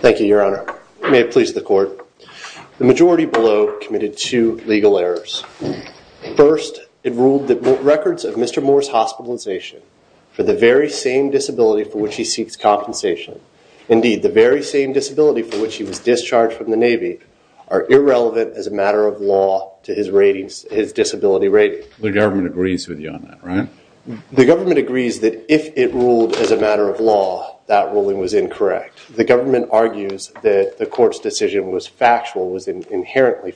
Thank you your honor, may it please the court, the majority below committed two legal errors. First, it ruled that records of Mr. Moore's hospitalization for the very same disability for which he seeks compensation, indeed the very same disability for which he was discharged from the Navy, are irrelevant as a matter of law to his disability rating. The government agrees with you on that, right? The government agrees that if it ruled as a matter of law, that ruling was incorrect. The government argues that the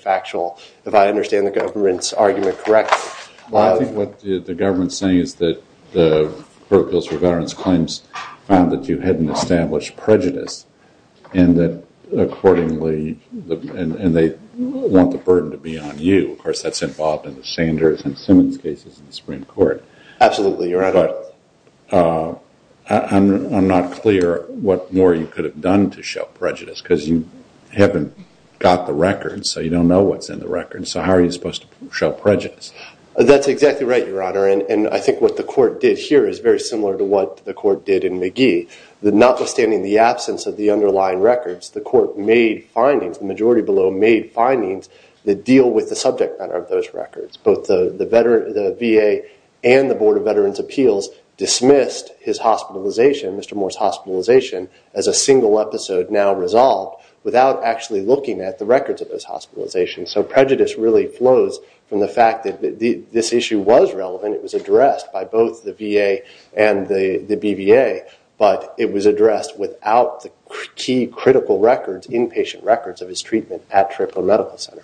actual, if I understand the government's argument correctly. Well I think what the government is saying is that the Pro Pilsner Veterans Claims found that you hadn't established prejudice and that accordingly, and they want the burden to be on you. Of course that's involved in the Sanders and Simmons cases in the Supreme Court. Absolutely your honor. But I'm not clear what more you could have done to show prejudice because you haven't got the records, so you don't know what's in the records. So how are you supposed to show prejudice? That's exactly right your honor and I think what the court did here is very similar to what the court did in McGee. Notwithstanding the absence of the underlying records, the court made findings, the majority below made findings that deal with the subject matter of those records. Both the VA and the Board of Veterans Appeals dismissed his hospitalization, Mr. Moore's hospitalization, as a single episode now resolved without actually looking at the records of his hospitalization. So prejudice really flows from the fact that this issue was relevant, it was addressed by both the VA and the BVA, but it was addressed without the key critical records, inpatient records of his treatment at Tripler Medical Center.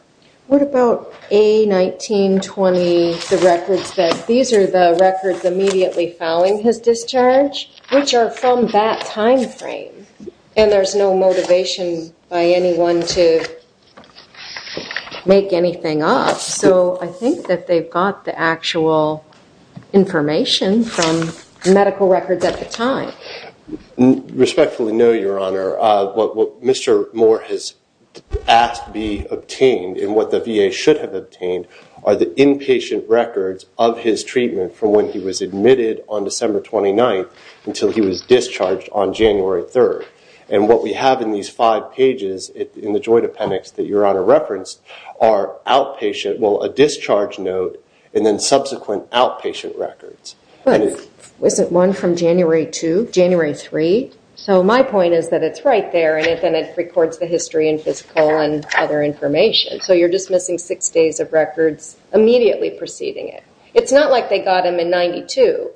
What about A1920, the records that, these are the records immediately following his hospitalization? From that time frame. And there's no motivation by anyone to make anything up, so I think that they've got the actual information from medical records at the time. Respectfully no, your honor. What Mr. Moore has asked be obtained and what the VA should have obtained are the inpatient records of his treatment from when he was admitted on discharge on January 3rd. And what we have in these five pages in the joint appendix that your honor referenced are outpatient, well a discharge note, and then subsequent outpatient records. Wasn't one from January 2, January 3? So my point is that it's right there and then it records the history and physical and other information. So you're dismissing six days of records immediately preceding it. It's not like they got him in 92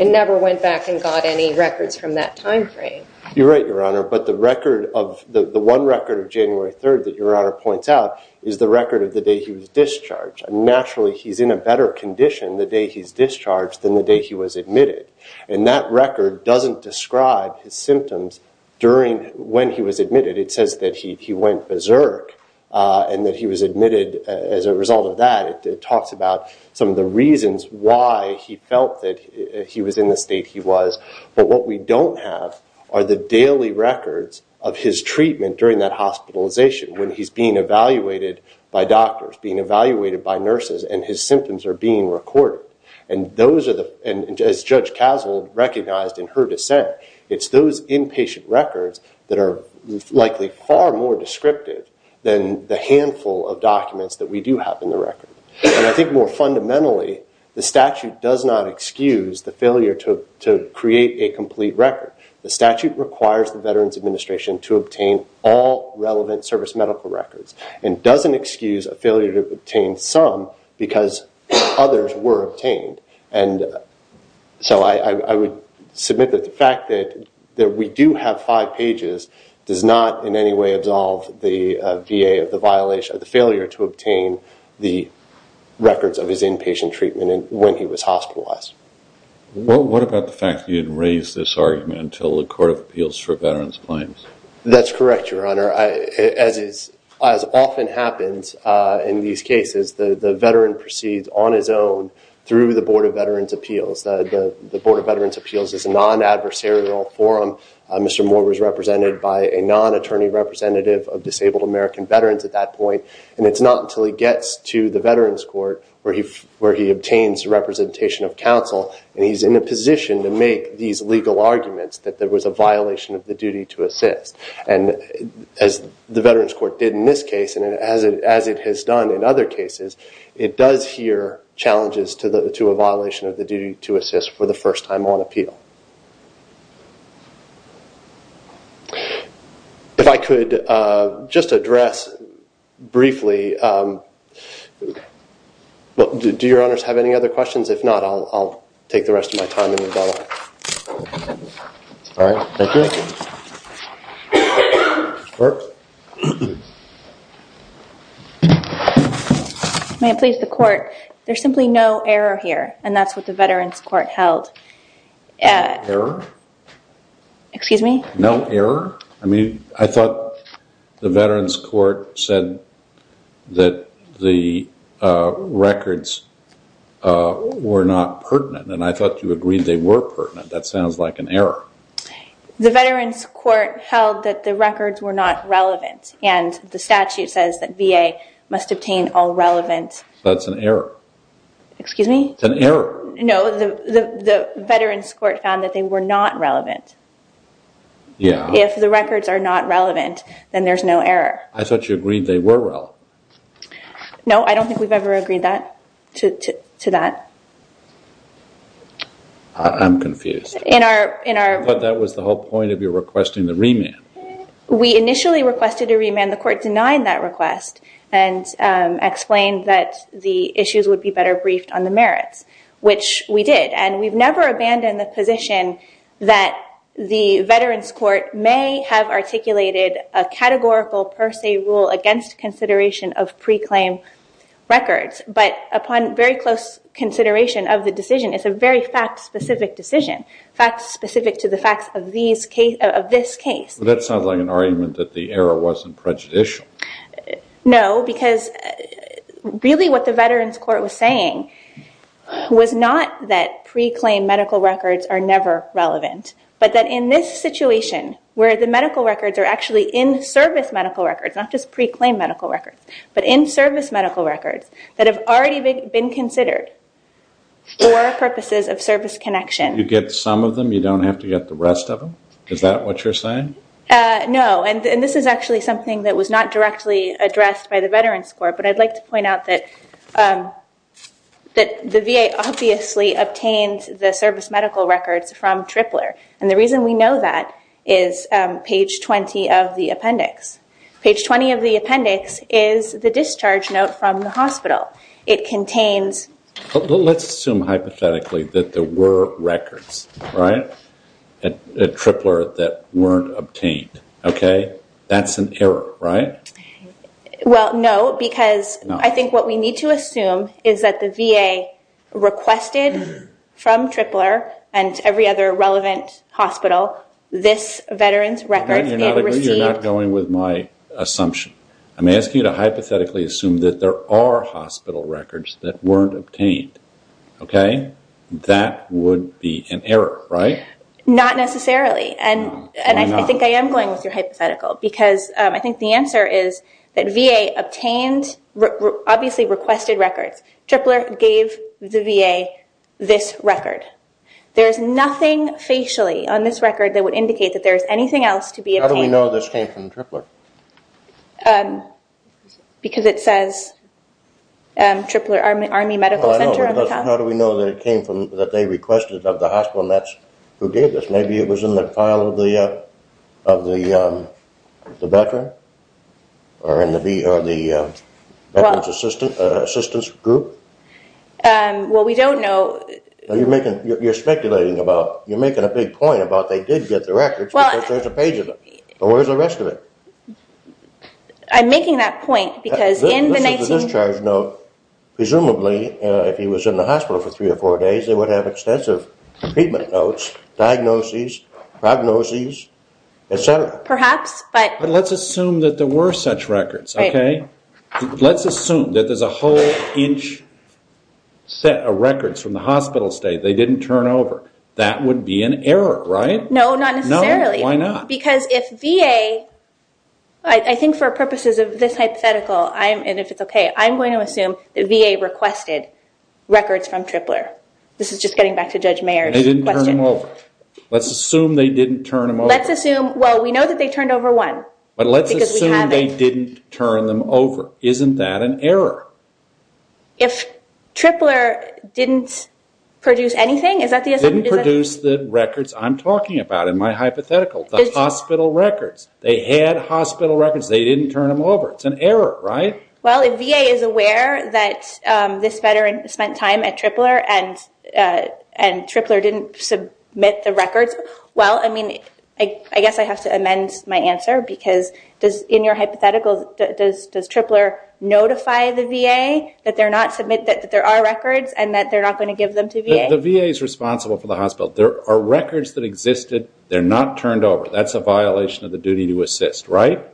and never went back and got any records from that time frame. You're right, your honor. But the record of, the one record of January 3rd that your honor points out is the record of the day he was discharged. Naturally he's in a better condition the day he's discharged than the day he was admitted. And that record doesn't describe his symptoms during when he was admitted. It says that he went berserk and that he was admitted as a result of that. It talks about some of the reasons why he felt that he was in the state he was. But what we don't have are the daily records of his treatment during that hospitalization when he's being evaluated by doctors, being evaluated by nurses, and his symptoms are being recorded. And those are the, as Judge Casald recognized in her dissent, it's those inpatient records that are likely far more descriptive than the handful of documents that we do have in the record. And I think more fundamentally, the statute does not excuse the failure to create a complete record. The statute requires the Veterans Administration to obtain all relevant service medical records and doesn't excuse a failure to obtain some because others were obtained. And so I would submit that the fact that we do have five pages does not in any way absolve the VA of the failure to obtain the records of his inpatient treatment when he was hospitalized. What about the fact that you didn't raise this argument until the Court of Appeals for Veterans Claims? That's correct, Your Honor. As often happens in these cases, the veteran proceeds on his own through the Board of Veterans' Appeals. The Board of Veterans' Appeals is a non-adversarial forum. Mr. Moore was represented by a non-attorney representative of disabled American veterans at that point. And it's not until he gets to the Veterans Court where he obtains representation of counsel and he's in a position to make these legal arguments that there was a violation of the duty to assist. And as the Veterans Court did in this case and as it has done in other cases, it does hear challenges to a violation of the duty to assist for the veteran. If I could just address briefly, do Your Honors have any other questions? If not, I'll take the rest of my time and rebuttal. May it please the Court, there's simply no error here and that's what the Veterans Court held. Error? Excuse me? No error? I mean, I thought the Veterans Court said that the records were not pertinent and I thought you agreed they were pertinent. That sounds like an error. The Veterans Court held that the records were not relevant and the statute says that VA must obtain all relevant. That's an error. Excuse me? It's an error. No, the Veterans Court found that they were not relevant. Yeah. If the records are not relevant, then there's no error. I thought you agreed they were relevant. No, I don't think we've ever agreed that, to that. I'm confused. In our... But that was the whole point of your requesting the remand. We initially requested a remand. The Court denied that request and explained that the records were not relevant, which we did. And we've never abandoned the position that the Veterans Court may have articulated a categorical per se rule against consideration of pre-claim records. But upon very close consideration of the decision, it's a very fact-specific decision, fact-specific to the facts of this case. That sounds like an argument that the error wasn't prejudicial. No, because really what the Veterans Court was saying was not that pre-claim medical records are never relevant, but that in this situation where the medical records are actually in-service medical records, not just pre-claim medical records, but in-service medical records that have already been considered for purposes of service connection. You get some of them, you don't have to get the rest of them? Is that what you're saying? No, and this is actually something that was not directly addressed by the Veterans Court, but I'd like to point out that the VA obviously obtained the service medical records from Tripler. And the reason we know that is page 20 of the appendix. Page 20 of the appendix is the discharge note from the hospital. It contains... Let's assume hypothetically that there were records, right, at Tripler that weren't obtained, okay? That's an error, right? Well, no, because I think what we need to assume is that the VA requested from Tripler and every other relevant hospital this Veterans records they had received... No, you're not going with my assumption. I'm asking you to hypothetically assume that there are hospital records that weren't obtained, okay? That would be an error, right? Not necessarily. And I think I am going with your hypothetical because I think the answer is that VA obviously requested records. Tripler gave the VA this record. There's nothing facially on this record that would indicate that there's anything else to be obtained. How do we know this came from Tripler? Because it says Tripler Army Medical Center on the top. How do we know that it came from... That they requested of the hospital and that's who gave this? Maybe it was in the file of the Veteran or in the Veterans Assistance Group? Well, we don't know... You're speculating about... You're making a big point about they did get the records because there's a page of them. Well, where's the rest of it? I'm making that point because in the 19... This is the discharge note. Presumably, if he was in the hospital for three or four days, they would have extensive treatment notes, diagnoses, prognoses, et cetera. Perhaps, but... But let's assume that there were such records, okay? Let's assume that there's a whole inch set of records from the hospital state. They didn't turn over. That would be an error, right? No, not necessarily. No, why not? Because if VA, I think for purposes of this hypothetical, and if it's okay, I'm going to assume that VA requested records from Tripler. This is just getting back to Judge Mayer's question. They didn't turn them over. Let's assume they didn't turn them over. Let's assume... Well, we know that they turned over one because we have a... But let's assume they didn't turn them over. Isn't that an error? If Tripler didn't produce anything, is that the assumption? They didn't produce the records I'm talking about in my hypothetical, the hospital records. They had hospital records. They didn't turn them over. It's an error, right? Well, if VA is aware that this veteran spent time at Tripler and Tripler didn't submit the records, well, I mean, I guess I have to amend my answer because in your hypothetical, does Tripler notify the VA that there are records and that they're not going to give them to VA? The VA is responsible for the hospital. There are records that existed. They're not turned over. That's a violation of the duty to assist, right?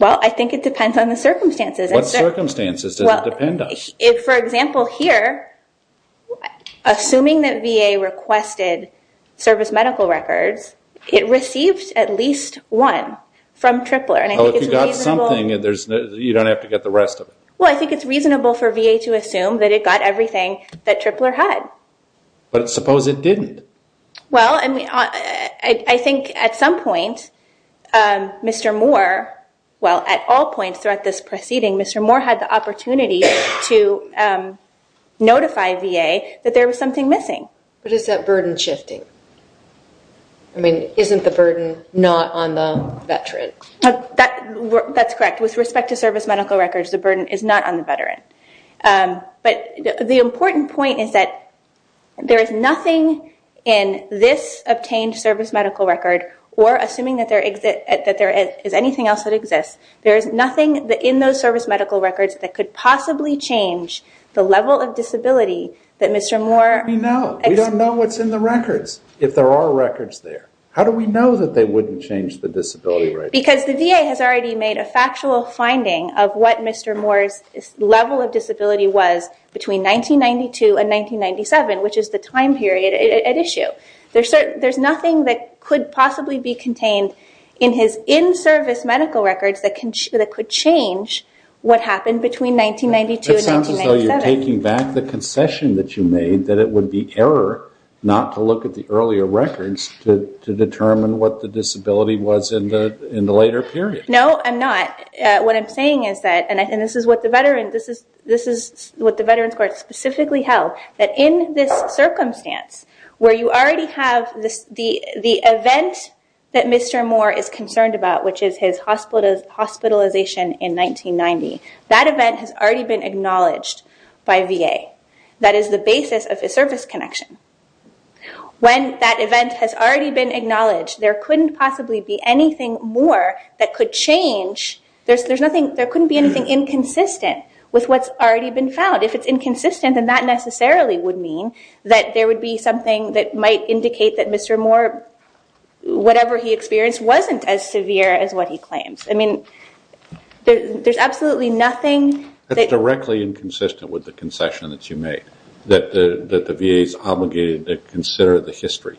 Well, I think it depends on the circumstances. What circumstances does it depend on? For example, here, assuming that VA requested service medical records, it received at least one from Tripler and I think it's reasonable... Well, I think it's reasonable for VA to assume that it got everything that Tripler had. But suppose it didn't? Well, I mean, I think at some point, Mr. Moore, well, at all points throughout this proceeding, Mr. Moore had the opportunity to notify VA that there was something missing. But is that burden shifting? I mean, isn't the burden not on the veteran? That's correct. With respect to service medical records, the burden is not on the veteran. But the important point is that there is nothing in this obtained service medical record or assuming that there is anything else that exists, there is nothing in those service medical records that could possibly change the level of disability that Mr. Moore... How do we know? We don't know what's in the records, if there are records there. How do we know that they wouldn't change the disability rating? Because the VA has already made a factual finding of what Mr. Moore's level of disability was between 1992 and 1997, which is the time period at issue. There's nothing that could possibly be contained in his in-service medical records that could change what happened between 1992 and 1997. It sounds as though you're taking back the concession that you made, that it would be to look at the earlier records to determine what the disability was in the later period. No, I'm not. What I'm saying is that, and this is what the Veterans Court specifically held, that in this circumstance, where you already have the event that Mr. Moore is concerned about, which is his hospitalization in 1990, that event has already been acknowledged by VA. That is the basis of his service connection. When that event has already been acknowledged, there couldn't possibly be anything more that could change... There couldn't be anything inconsistent with what's already been found. If it's inconsistent, then that necessarily would mean that there would be something that might indicate that Mr. Moore, whatever he experienced, wasn't as severe as what he claims. There's absolutely nothing... That's directly inconsistent with the concession that you made, that the VA is obligated to consider the history.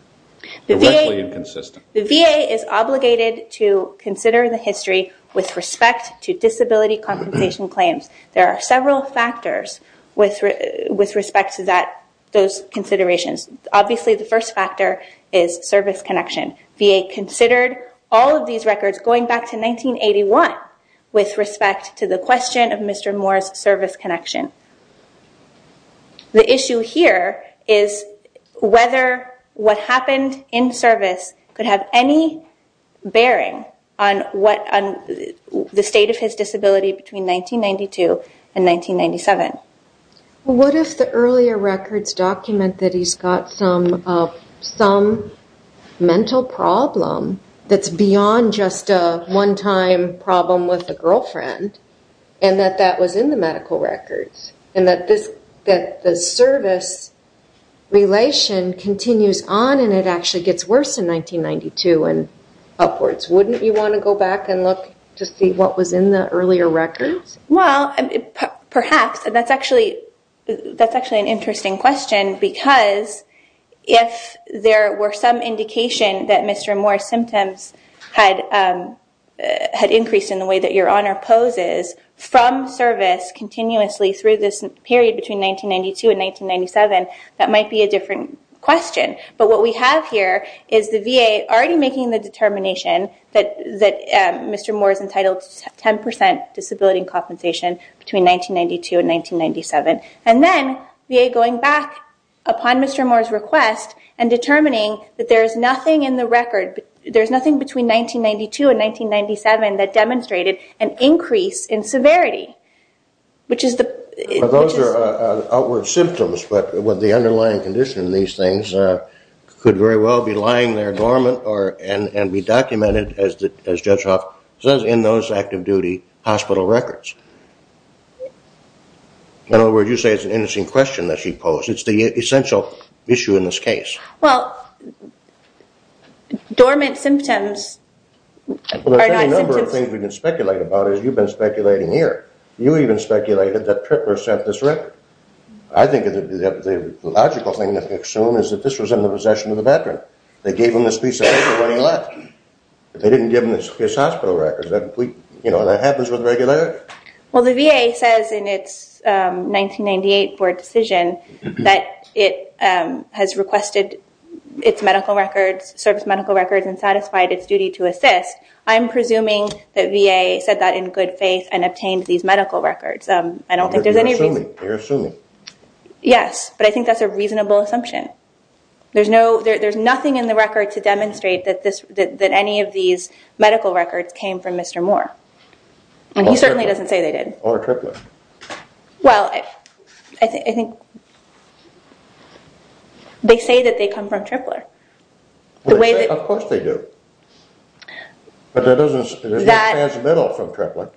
Directly inconsistent. The VA is obligated to consider the history with respect to disability compensation claims. There are several factors with respect to those considerations. Obviously, the first factor is service connection. VA considered all of these records going back to 1981 with respect to the question of Mr. Moore's service connection. The issue here is whether what happened in service could have any bearing on the state of his disability between 1992 and 1997. What if the earlier records document that he's got some mental problem that's beyond just a one-time problem with a girlfriend, and that that was in the medical records, and that the service relation continues on and it actually gets worse in 1992 and upwards? Wouldn't you want to go back and look to see what was in the earlier records? Well, perhaps. That's actually an interesting question because if there were some indication that Mr. Moore's disability had increased in the way that your honor poses from service continuously through this period between 1992 and 1997, that might be a different question. But what we have here is the VA already making the determination that Mr. Moore is entitled to 10% disability compensation between 1992 and 1997. And then VA going back upon Mr. Moore's request and determining that there is nothing in the 1992 and 1997 that demonstrated an increase in severity, which is the- Those are outward symptoms, but with the underlying condition of these things could very well be lying there dormant and be documented, as Judge Hoff says, in those active duty hospital records. In other words, you say it's an interesting question that she posed. It's the essential issue in this case. Well, dormant symptoms are not symptoms- Well, there's a number of things we can speculate about as you've been speculating here. You even speculated that Tripper sent this record. I think the logical thing to assume is that this was in the possession of the veteran. They gave him this piece of paper when he left. They didn't give him his hospital records. That happens with regularity. Well, the VA says in its 1998 board decision that it has requested its medical records, service medical records, and satisfied its duty to assist. I'm presuming that VA said that in good faith and obtained these medical records. I don't think there's any reason- You're assuming. Yes, but I think that's a reasonable assumption. There's nothing in the record to demonstrate that any of these medical records came from Mr. Moore. And he certainly doesn't say they did. Or Trippler. Well, I think they say that they come from Trippler. Of course they do. But there's no transmittal from Trippler.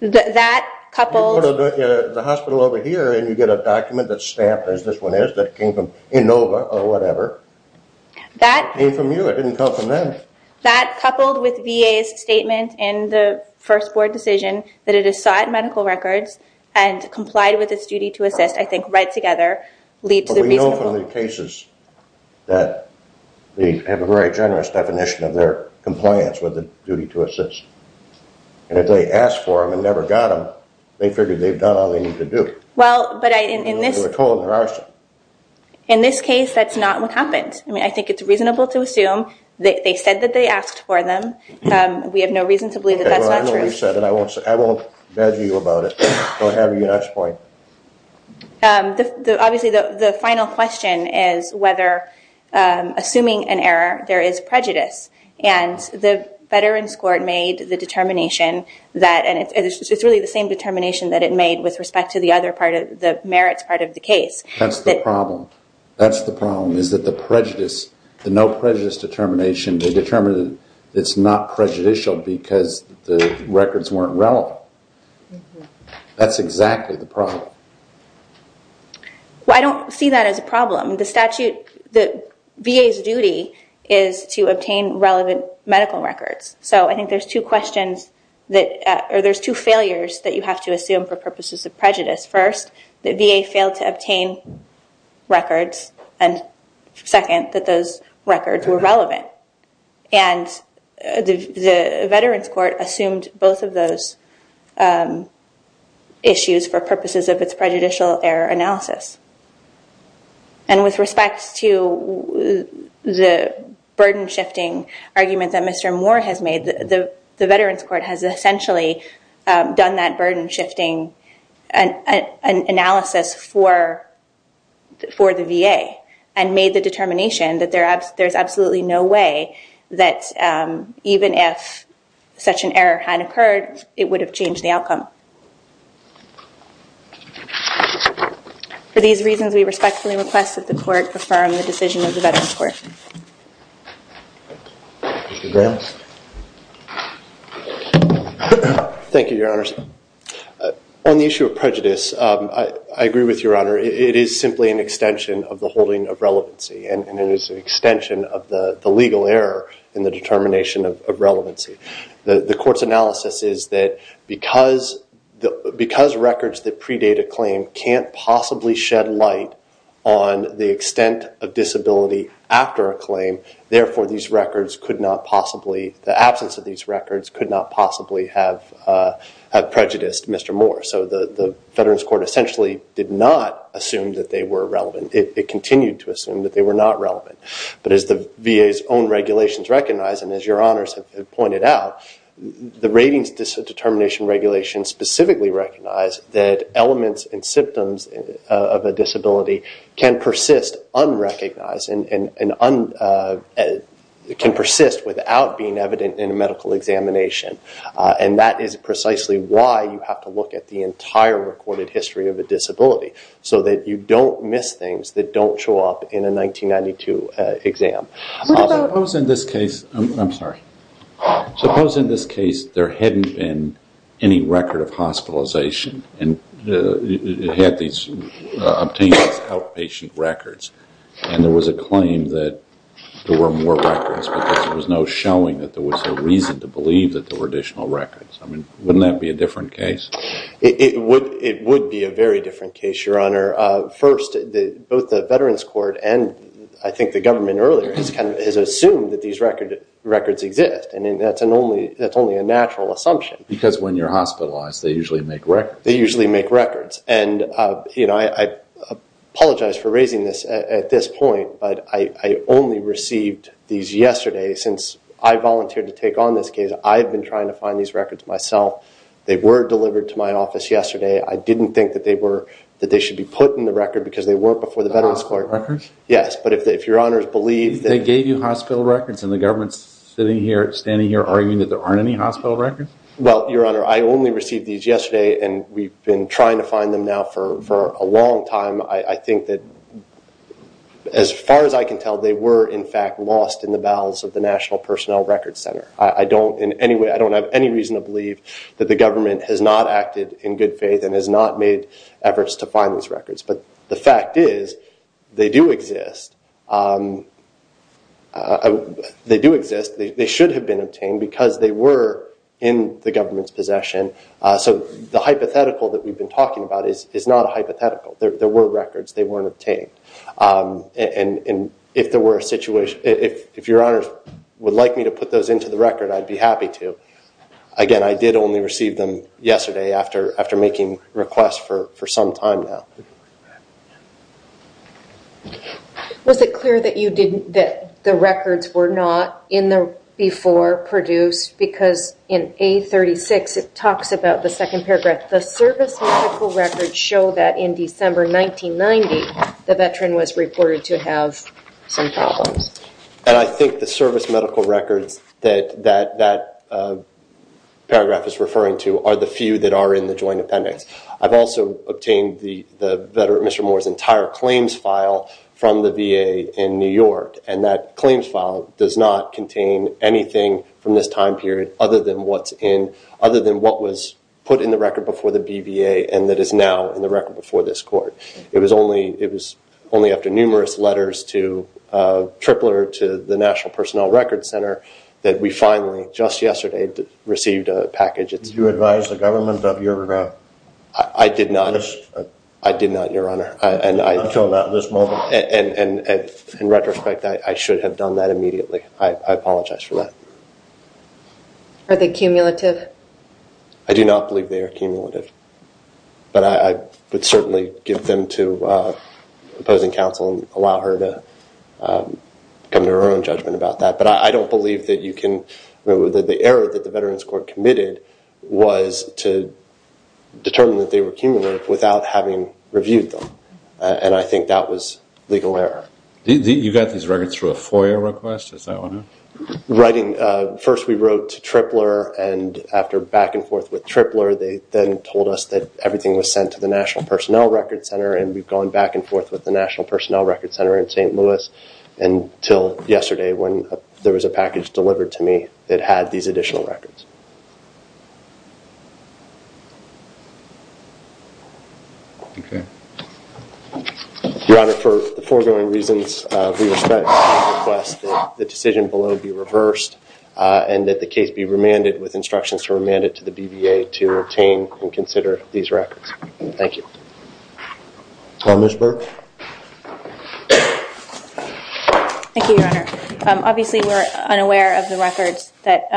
That coupled- You go to the hospital over here and you get a document that's stamped as this one is that came from Inova or whatever. That came from you. It didn't come from them. That coupled with VA's statement in the first board decision that it has sought medical records and complied with its duty to assist, I think right together leads to the reasonable- But we know from the cases that they have a very generous definition of their compliance with the duty to assist. And if they asked for them and never got them, they figured they've done all they need to do. Well, but in this- They were told they're arson. In this case, that's not what happened. I think it's reasonable to assume that they said that they asked for them. We have no reason to believe that that's not true. Okay, well, I know you've said it. I won't badger you about it. Go ahead with your next point. Obviously, the final question is whether assuming an error, there is prejudice. And the Veterans Court made the determination that- And it's really the same determination that it made with respect to the other part of the merits part of the case. That's the problem. That's the problem. Is that the prejudice, the no prejudice determination, they determined it's not prejudicial because the records weren't relevant. That's exactly the problem. Well, I don't see that as a problem. The statute, the VA's duty is to obtain relevant medical records. So I think there's two questions that- Or there's two failures that you have to assume for purposes of prejudice. First, the VA failed to obtain records. And second, that those records were relevant. And the Veterans Court assumed both of those issues for purposes of its prejudicial error analysis. And with respect to the burden shifting argument that Mr. Moore has made, the Veterans Court has essentially done that burden shifting analysis for the VA and made the determination that there's absolutely no way that even if such an error had occurred, it would have changed the outcome. For these reasons, we respectfully request that the court affirm the decision of the Veterans Court. Thank you, Your Honors. On the issue of prejudice, I agree with Your Honor. It is simply an extension of the holding of relevancy. And it is an extension of the legal error in the determination of relevancy. The court's analysis is that because records that predate a claim can't possibly shed light on the extent of disability after a claim, therefore, the absence of these records could not possibly have prejudiced Mr. Moore. So the Veterans Court essentially did not assume that they were relevant. It continued to assume that they were not relevant. But as the VA's own regulations recognize, and as Your Honors have pointed out, the ratings can persist unrecognized and can persist without being evident in a medical examination. And that is precisely why you have to look at the entire recorded history of a disability, so that you don't miss things that don't show up in a 1992 exam. Suppose in this case there hadn't been any record of hospitalization and had these obtained outpatient records, and there was a claim that there were more records because there was no showing that there was a reason to believe that there were additional records. I mean, wouldn't that be a different case? It would be a very different case, Your Honor. First, both the Veterans Court and I think the government earlier has assumed that these records exist. And that's only a natural assumption. Because when you're hospitalized, they usually make records. They usually make records. And, you know, I apologize for raising this at this point, but I only received these yesterday since I volunteered to take on this case. I've been trying to find these records myself. They were delivered to my office yesterday. I didn't think that they were that they should be put in the record because they weren't before the Veterans Court. The hospital records? Yes. But if Your Honors believe that... They gave you hospital records and the government's sitting here, standing here, arguing that there aren't any hospital records? Well, Your Honor, I only received these yesterday. And we've been trying to find them now for a long time. I think that as far as I can tell, they were, in fact, lost in the bowels of the National Personnel Records Center. I don't in any way, I don't have any reason to believe that the government has not acted in good faith and has not made efforts to find these records. But the fact is, they do exist. They do exist. They should have been obtained because they were in the government's possession. So the hypothetical that we've been talking about is not a hypothetical. There were records. They weren't obtained. And if Your Honors would like me to put those into the record, I'd be happy to. Again, I did only receive them yesterday after making requests for some time now. Was it clear that you didn't, that the records were not in the before produced because in A36, it talks about the second paragraph, the service medical records show that in December 1990, the veteran was reported to have some problems. And I think the service medical records that that paragraph is referring to are the few that are in the joint appendix. I've also obtained Mr. Moore's entire claims file from the VA in New York. And that claims file does not contain anything from this time period other than what's in, other than what was put in the record before the BVA and that is now in the record before this court. It was only after numerous letters to Tripler, to the National Personnel Records Center, that we finally, just yesterday, received a package. Did you advise the government of your request? I did not. I did not, Your Honor. Until now, this moment. And in retrospect, I should have done that immediately. I apologize for that. Are they cumulative? I do not believe they are cumulative. But I would certainly give them to opposing counsel and allow her to come to her own judgment about that. I don't believe that you can, the error that the Veterans Court committed was to determine that they were cumulative without having reviewed them. And I think that was legal error. You got these records through a FOIA request? Writing, first we wrote to Tripler and after back and forth with Tripler, they then told us that everything was sent to the National Personnel Records Center and we've gone back and forth with the National Personnel Records Center in St. Louis. Until yesterday when there was a package delivered to me that had these additional records. Okay. Your Honor, for the foregoing reasons, we request that the decision below be reversed and that the case be remanded with instructions to remand it to the BVA to obtain and consider these records. Thank you. Ms. Burke? Thank you, Your Honor. Obviously, we're unaware of the records that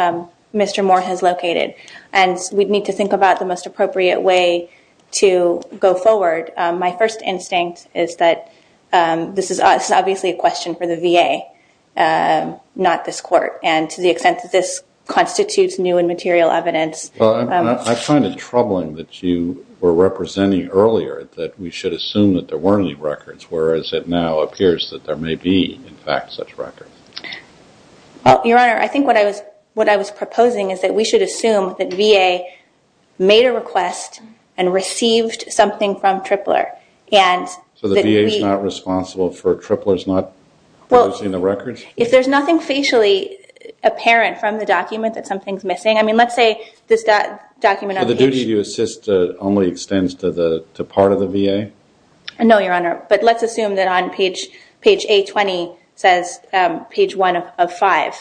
Mr. Moore has located. And we'd need to think about the most appropriate way to go forward. My first instinct is that this is obviously a question for the VA, not this court. And to the extent that this constitutes new and material evidence. I find it troubling that you were representing earlier that we should assume that there weren't any records. Whereas it now appears that there may be, in fact, such records. Well, Your Honor, I think what I was proposing is that we should assume that VA made a request and received something from Tripler. So the VA's not responsible for Tripler's not producing the records? I mean, let's say this document on page- But the duty to assist only extends to part of the VA? No, Your Honor. But let's assume that on page A20 says page 1 of 5.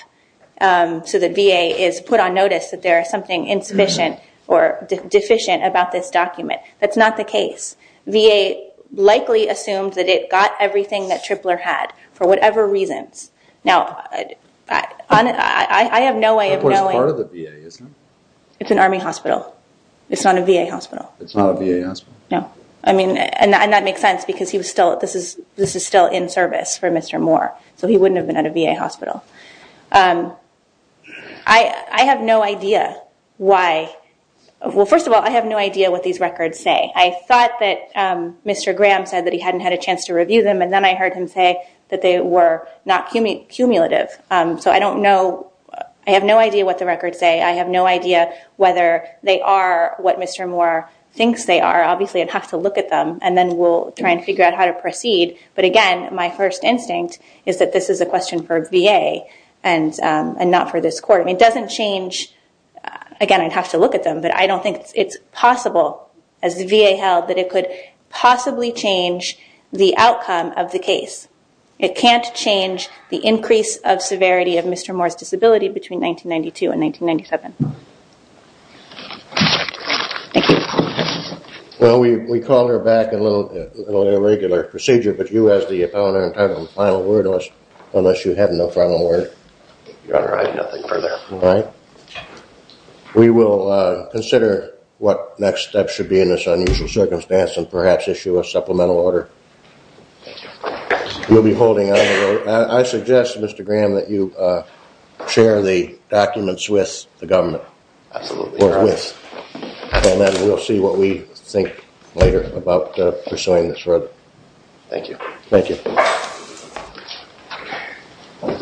So that VA is put on notice that there is something insufficient or deficient about this document. That's not the case. VA likely assumed that it got everything that Tripler had for whatever reasons. Now, I have no way of knowing- It's an Army hospital. It's not a VA hospital. It's not a VA hospital? No. I mean, and that makes sense because this is still in service for Mr. Moore. So he wouldn't have been at a VA hospital. I have no idea why. Well, first of all, I have no idea what these records say. I thought that Mr. Graham said that he hadn't had a chance to review them. And then I heard him say that they were not cumulative. So I don't know. I have no idea what the records say. I have no idea whether they are what Mr. Moore thinks they are. Obviously, I'd have to look at them. And then we'll try and figure out how to proceed. But again, my first instinct is that this is a question for VA and not for this court. I mean, it doesn't change. Again, I'd have to look at them. But I don't think it's possible, as the VA held, that it could possibly change the outcome of the case. It can't change the increase of severity of Mr. Moore's disability between 1992 and 1997. Thank you. Well, we call her back in a regular procedure. But you, as the opponent, have no final word on this unless you have no final word. Your Honor, I have nothing further. All right. We will consider what next steps should be in this unusual circumstance and perhaps issue a supplemental order. You'll be holding on the road. I suggest, Mr. Graham, that you share the documents with the government. Absolutely, Your Honor. Or with. And then we'll see what we think later about pursuing this road. Thank you. Thank you.